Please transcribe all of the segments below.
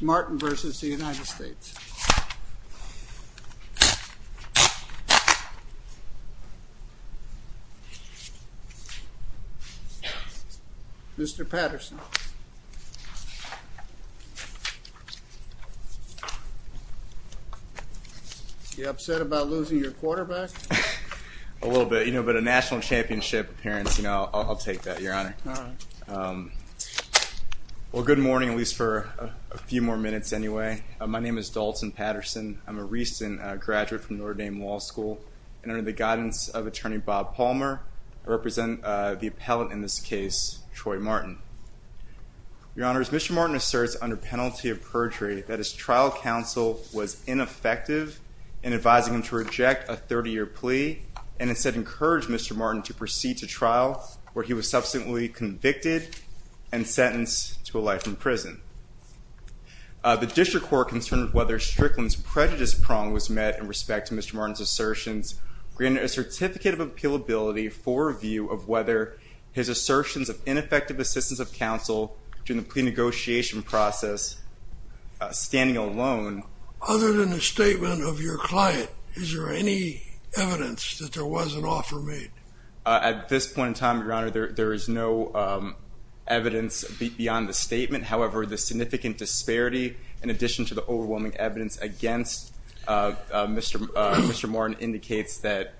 Martin v. the United States. Mr. Patterson, are you upset about losing your quarterback? A little bit, you know, but a national championship appearance, you know. Well, good morning, at least for a few more minutes anyway. My name is Dalton Patterson. I'm a recent graduate from Notre Dame Law School, and under the guidance of Attorney Bob Palmer, I represent the appellant in this case, Troy Martin. Your Honors, Mr. Martin asserts under penalty of perjury that his trial counsel was ineffective in advising him to reject a 30-year plea and instead encouraged Mr. Martin to proceed to trial where he was subsequently convicted and sentenced to a life in prison. The District Court concerned whether Strickland's prejudice prong was met in respect to Mr. Martin's assertions, granted a certificate of appealability for review of whether his assertions of ineffective assistance of counsel during the plea negotiation process, standing alone. Other than the statement of your client, is there any evidence that there was an offer made? At this point in time, Your Honor, there is no evidence beyond the statement. However, the significant disparity, in addition to the overwhelming evidence against Mr. Martin, indicates that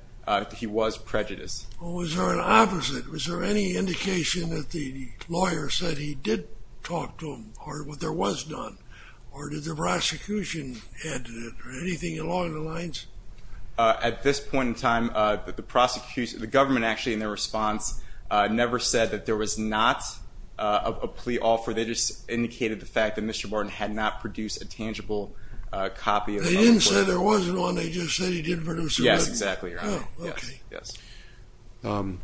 he was prejudiced. Well, was there an opposite? Was there any indication that the lawyer said he did talk to him, or there was none? Or did the prosecution add to that, or anything along the lines? At this point in time, the government, actually, in their response, never said that there was not a plea offer. They just indicated the fact that Mr. Martin had not produced a tangible copy of the offer. They didn't say there wasn't one. They just said he did produce another. Yes, exactly, Your Honor.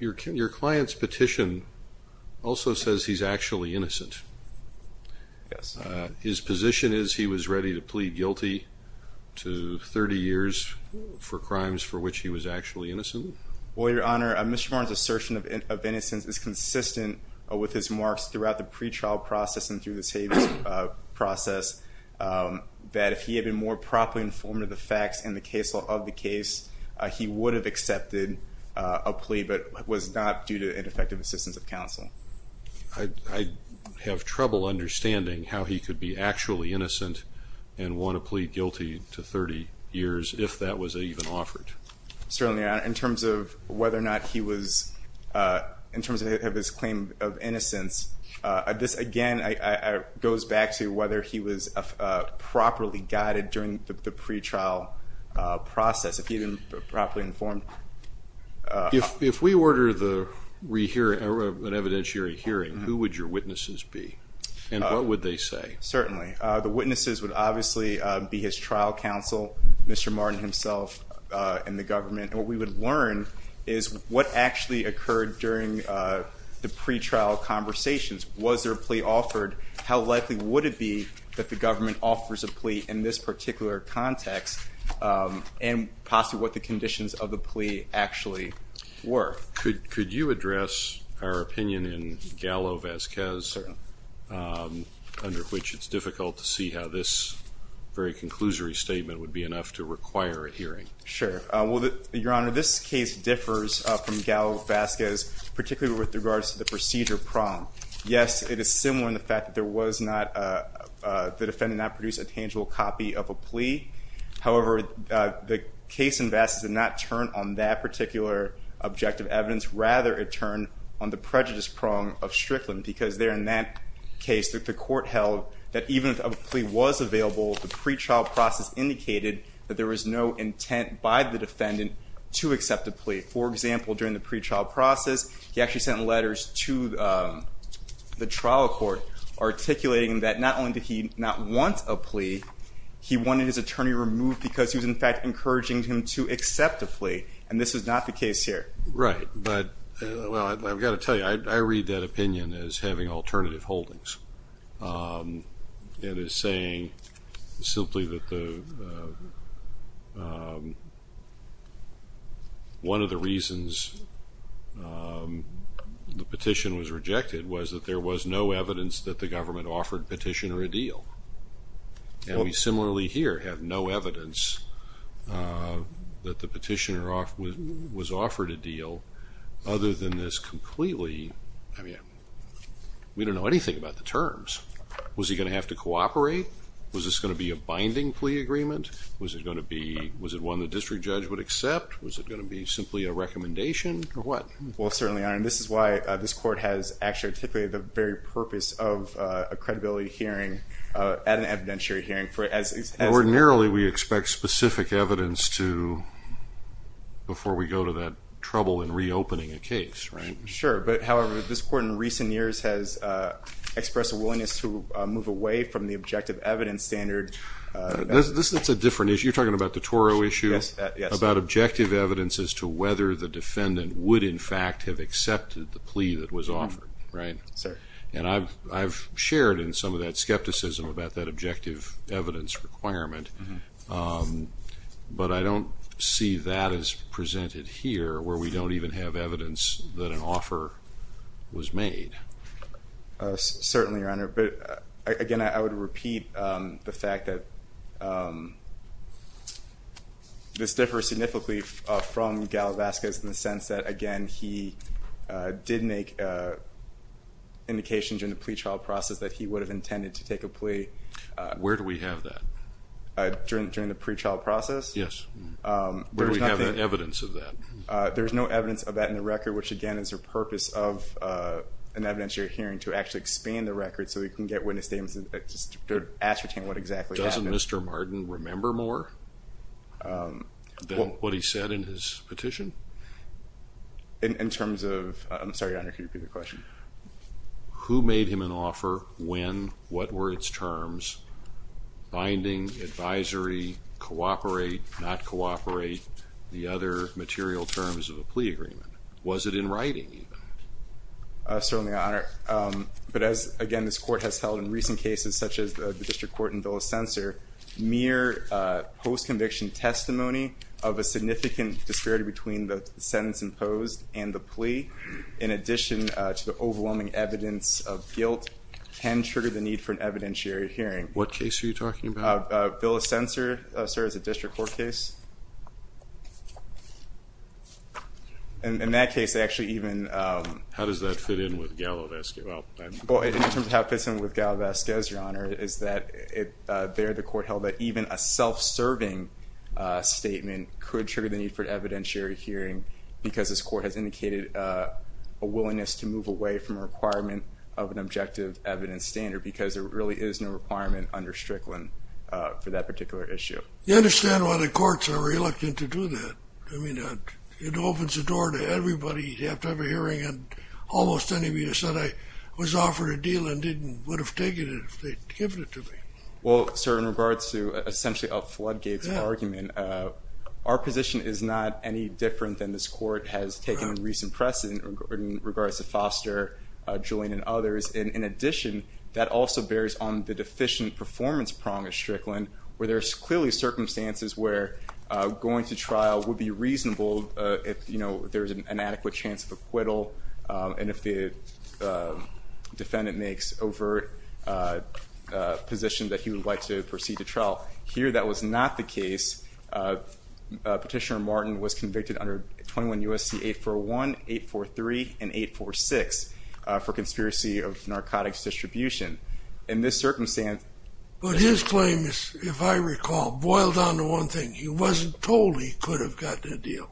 Your client's petition also says he's actually innocent. His position is he was ready to work 30 years for crimes for which he was actually innocent? Well, Your Honor, Mr. Martin's assertion of innocence is consistent with his marks throughout the pretrial process and through the savings process, that if he had been more properly informed of the facts and the case law of the case, he would have accepted a plea, but was not due to ineffective assistance of counsel. I have trouble understanding how he could be actually innocent and want to plead guilty to 30 years, if that was even offered. Certainly, Your Honor. In terms of whether or not he was, in terms of his claim of innocence, this again goes back to whether he was properly guided during the pretrial process, if he had been properly informed. If we order an evidentiary hearing, who would your witnesses be, and what would they say? Certainly. The witnesses would obviously be his trial counsel, Mr. Martin himself and the government, and what we would learn is what actually occurred during the pretrial conversations. Was there a plea offered? How likely would it be that the government offers a plea in this particular context, and possibly what the conditions of the plea actually were? Could you address our opinion in Gallo-Vasquez, under which it's difficult to see how this very conclusory statement would be enough to require a hearing? Sure. Your Honor, this case differs from Gallo-Vasquez, particularly with regards to the procedure prom. Yes, it is similar in the fact that the defendant did not produce a tangible copy of a plea. However, the case in Vasquez did not turn on that particular objective evidence. Rather, it turned on the prejudice prom of Strickland, because there in that case, the court held that even if a plea was available, the pretrial process indicated that there was no intent by the defendant to accept a plea. For example, during the pretrial process, he actually sent letters to the trial court, articulating that not only did he not want a plea, he wanted his attorney removed because he was, in fact, encouraging him to accept a plea, and this is not the case here. Right, but, well, I've got to tell you, I read that opinion as having alternative holdings. It is saying simply that the, one of the reasons the petition was rejected was that there was no evidence that the government offered petitioner a deal, and we similarly here have no evidence that the petitioner was offered a deal other than this completely, I mean, we don't know anything about the terms. Was he going to have to cooperate? Was this going to be a binding plea agreement? Was it going to be, was it one the district judge would accept? Was it going to be simply a recommendation or what? Well, certainly, Your Honor, and this is why this court has actually articulated the very purpose of a credibility hearing at an evidentiary hearing. Ordinarily, we expect specific evidence to, before we go to that trouble in reopening a case, right? Sure, but, however, this court in recent years has expressed a willingness to move away from the objective evidence standard. This is a different issue. You're talking about the Toro issue? Yes, yes. It's about objective evidence as to whether the defendant would, in fact, have accepted the plea that was offered, right? Sir. And I've shared in some of that skepticism about that objective evidence requirement, but I don't see that as presented here where we don't even have evidence that an offer was made. Certainly, Your Honor, but, again, I would repeat the fact that this difference between significantly from Galavazquez in the sense that, again, he did make indications in the plea trial process that he would have intended to take a plea. Where do we have that? During the pre-trial process? Yes. Where do we have the evidence of that? There's no evidence of that in the record, which, again, is the purpose of an evidentiary hearing to actually expand the record so we can get witness statements that ascertain what exactly happened. Doesn't Mr. Martin remember more than what he said in his petition? In terms of... I'm sorry, Your Honor, can you repeat the question? Who made him an offer, when, what were its terms, binding, advisory, cooperate, not cooperate, the other material terms of the plea agreement? Was it in writing, even? Certainly, Your Honor, but as, again, this Court has held in recent cases such as the mere post-conviction testimony of a significant disparity between the sentence imposed and the plea, in addition to the overwhelming evidence of guilt, can trigger the need for an evidentiary hearing. What case are you talking about? A bill of censor, sir, as a district court case. And in that case, they actually even... How does that fit in with Galavazquez? Well, I'm... The court held that even a self-serving statement could trigger the need for an evidentiary hearing because this court has indicated a willingness to move away from a requirement of an objective evidence standard because there really is no requirement under Strickland for that particular issue. You understand why the courts are reluctant to do that. I mean, it opens the door to everybody. You have to have a hearing and almost anybody that said I was offered a deal and didn't would have taken it if they'd given it to me. Well, sir, in regards to essentially up Floodgate's argument, our position is not any different than this court has taken in recent precedent in regards to Foster, Julian, and others. In addition, that also bears on the deficient performance prong of Strickland where there's clearly circumstances where going to trial would be reasonable if there's an adequate chance of acquittal and if the defendant makes overt position that he would like to proceed to trial. Here, that was not the case. Petitioner Martin was convicted under 21 U.S.C. 841, 843, and 846 for conspiracy of narcotics distribution. In this circumstance... But his claim is, if I recall, boiled down to one thing. He wasn't told he could have gotten a deal.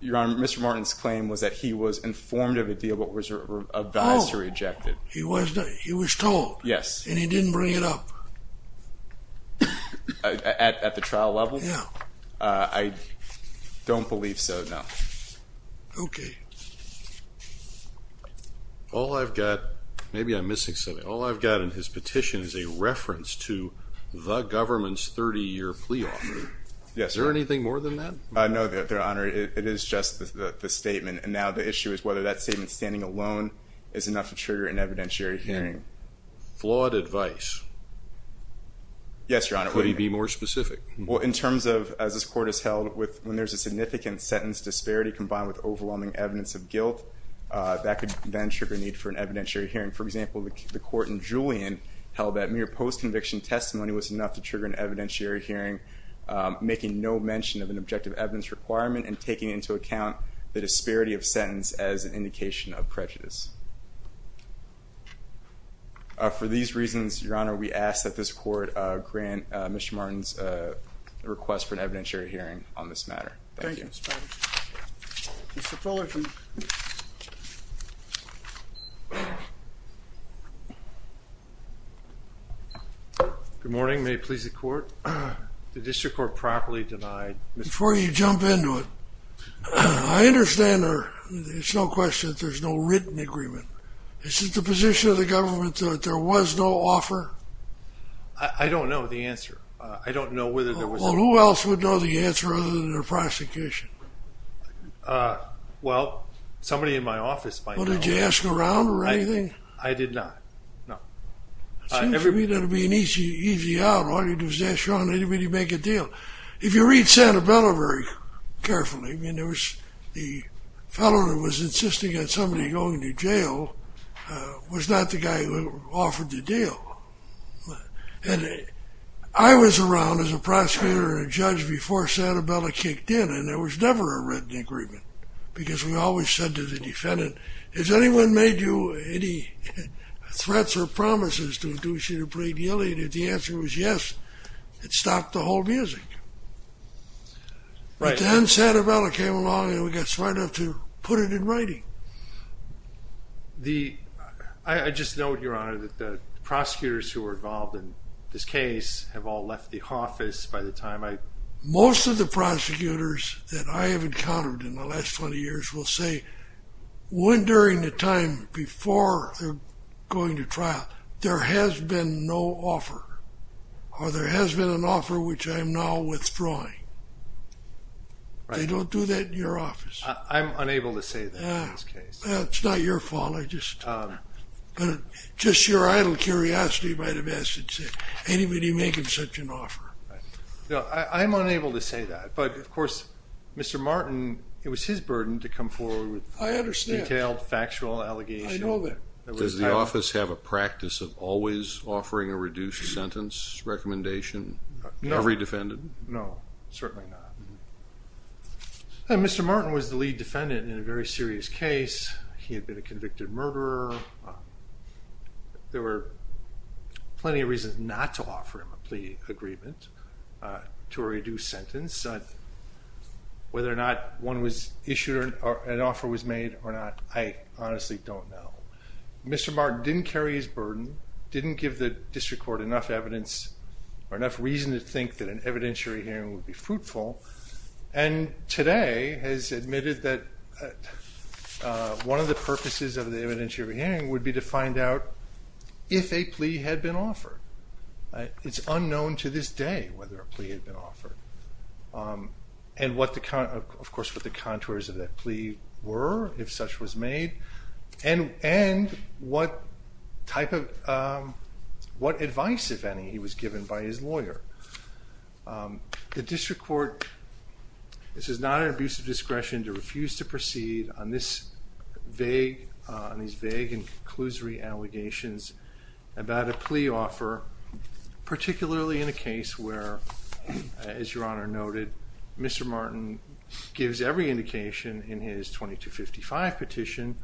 Your Honor, Mr. Martin's claim was that he was informed of a deal but was advised to reject it. Oh, he was told. Yes. And he didn't bring it up. At the trial level? Yeah. I don't believe so, no. Okay. All I've got, maybe I'm missing something, all I've got in his petition is a reference to the government's 30-year plea offer. Yes, Your Honor. Is there anything more than that? No, Your Honor. It is just the statement and now the issue is whether that statement standing alone is enough to trigger an evidentiary hearing. Flawed advice. Yes, Your Honor. Could he be more specific? Well, in terms of, as this Court has held, when there's a significant sentence disparity combined with overwhelming evidence of guilt, that could then trigger a need for an evidentiary hearing. For example, the Court in Julian held that mere post-conviction testimony was enough to trigger an evidentiary hearing, making no mention of an objective evidence requirement and taking into account the disparity of sentence as an indication of prejudice. For these reasons, Your Honor, we ask that this Court grant Mr. Martin's request for an evidentiary hearing on this matter. Thank you. Mr. Fullerton. Good morning. May it please the Court? The District Court properly denied Mr. Fullerton's request for an evidentiary hearing. Before you jump into it, I understand there's no question that there's no written agreement. Is it the position of the government that there was no offer? I don't know the answer. I don't know whether there was any offer. Well, who else would know the answer other than the prosecution? Well, somebody in my office might know. Well, did you ask around or anything? I did not. No. It seems to me that it would be an easy out. All you do is ask around. They didn't really make a deal. If you read Santa Bella very carefully, I mean, there was the fellow that was insisting on somebody going to jail was not the guy who offered the deal. And I was around as a prosecutor and a judge before Santa Bella kicked in, and there was never a written agreement because we always said to the defendant, has anyone made you any threats or promises to induce you to plead guilty? And if the answer was yes, it stopped the whole music. But then Santa Bella came along and we got smart enough to put it in writing. I just note, Your Honor, that the prosecutors who were involved in this case have all left the office by the time I... Most of the prosecutors that I have encountered in the last 20 years will say, when during the time before going to trial, there has been no offer or there has been an offer which I am now withdrawing. They don't do that in your office. I'm unable to say that. It's not your fault. Just your idle curiosity by the message. Anybody making such an offer. I'm unable to say that, but of course, Mr. Martin, it was his burden to come forward with a detailed factual allegation. I know that. Does the office have a practice of always offering a reduced sentence recommendation? Every defendant? No, certainly not. Mr. Martin was the lead defendant in a very serious case. He had been a convicted murderer. There were plenty of reasons not to offer him a plea agreement to reduce sentence. Whether or not one was issued or an offer was made or not, I honestly don't know. Mr. Martin didn't carry his burden, didn't give the district court enough evidence or enough reason to think that an evidentiary hearing would be fruitful, and today has admitted that one of the purposes of the evidentiary hearing would be to find out if a plea had been offered. It's unknown to this day whether a plea had been offered and what the contours of that plea were, if such was made, and what advice, if any, he was given by his lawyer. The district court, this is not an abuse of discretion to refuse to proceed on these vague and conclusory allegations about a plea offer, particularly in a case where, as Your Honor noted, Mr. Martin gives every indication in his 2255 petition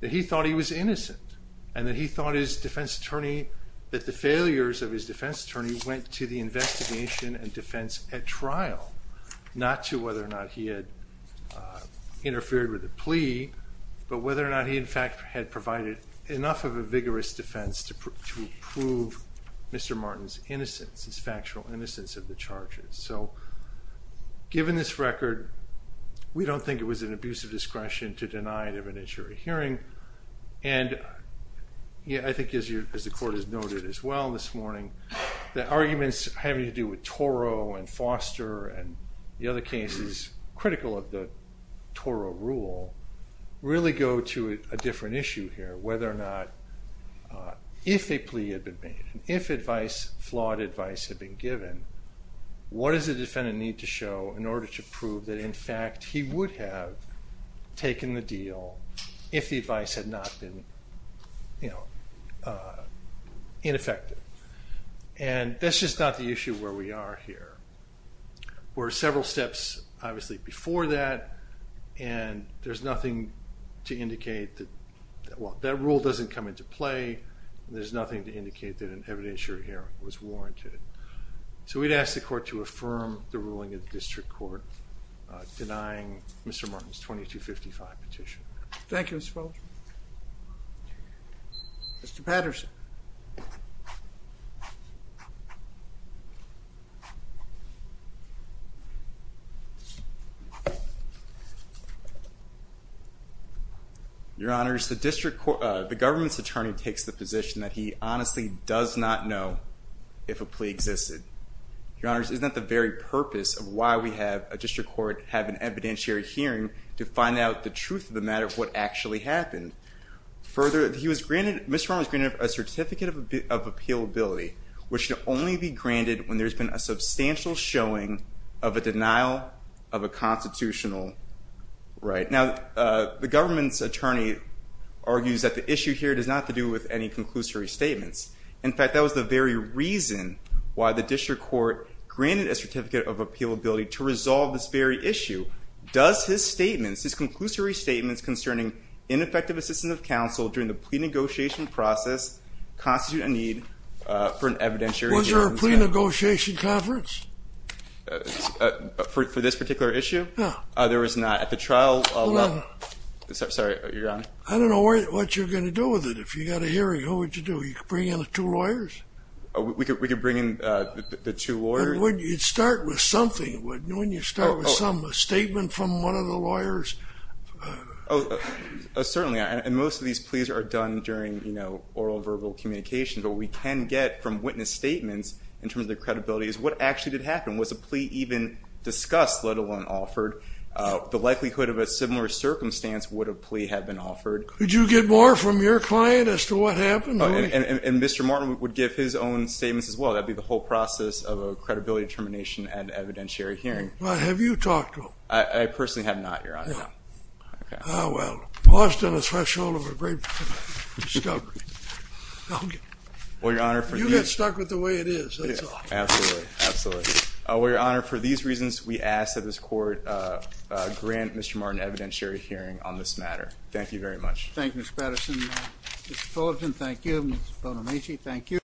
that he thought he was innocent and that he thought his defense attorney, that the failures of his defense attorney went to the investigation and defense at trial, not to whether or not he had interfered with a plea, but whether or not he in fact had provided enough of a vigorous defense to prove Mr. Martin's innocence, his factual innocence of the charges. Given this record, we don't think it was an abuse of discretion to deny an evidentiary hearing, and I think as the court has noted as well this morning, the arguments having to do with Toro and Foster and the other cases critical of the Toro rule really go to a different issue here, whether or not if a plea had been made, if flawed advice had been given, what does the defendant need to show in order to prove that in fact he would have taken the deal if the advice had not been, you know, ineffective? And that's just not the issue where we are here. There were several steps obviously before that, and there's nothing to indicate that, well, that rule doesn't come into play, and there's nothing to indicate that an evidentiary hearing was warranted. So we'd ask the court to affirm the ruling of the district court denying Mr. Martin's 2255 petition. Thank you, Mr. Feldman. Mr. Patterson. Your Honors, the government's attorney takes the position that he honestly does not know if a plea existed. Your Honors, is that the very purpose of why we have a district court have an evidentiary hearing to find out the truth of the matter of what actually happened? Further, he was granted, Mr. Martin was granted a certificate of appealability, which should only be granted when there's been a substantial showing of a denial of a constitutional right. Now, the government's attorney argues that the issue here does not have to do with any conclusory statements. In fact, that was the very reason why the district court granted a certificate of appealability to resolve this very issue. Does his statements, his conclusory statements concerning ineffective assistance of counsel during the plea negotiation process constitute a need for an evidentiary hearing? Was there a plea negotiation conference? For this particular issue? No. There was not. At the trial... Hold on. I don't know what you're going to do with it. If you got a hearing, what would you do? You could bring in the two lawyers? We could bring in the two lawyers? You'd start with something, wouldn't you? A statement from one of the lawyers? Certainly, and most of these pleas are done during oral verbal communication, but what we can get from witness statements in terms of credibility is what actually did happen? Was a plea even discussed, let alone offered? The likelihood of a similar circumstance would a plea have been offered? Could you get more from your client as to what happened? And Mr. Martin would give his own statements as well. That would be the whole process of a credibility determination and evidentiary hearing. Have you talked to him? I personally have not, Your Honor. Well, lost on a threshold of discovery. You get stuck with the way it is, that's all. Absolutely, absolutely. Well, Your Honor, for these reasons, we ask that this Court grant Mr. Martin evidentiary hearing on this matter. Thank you very much. Thank you, Mr. Patterson. Mr. Fullerton, thank you. Ms. Bonamici, thank you.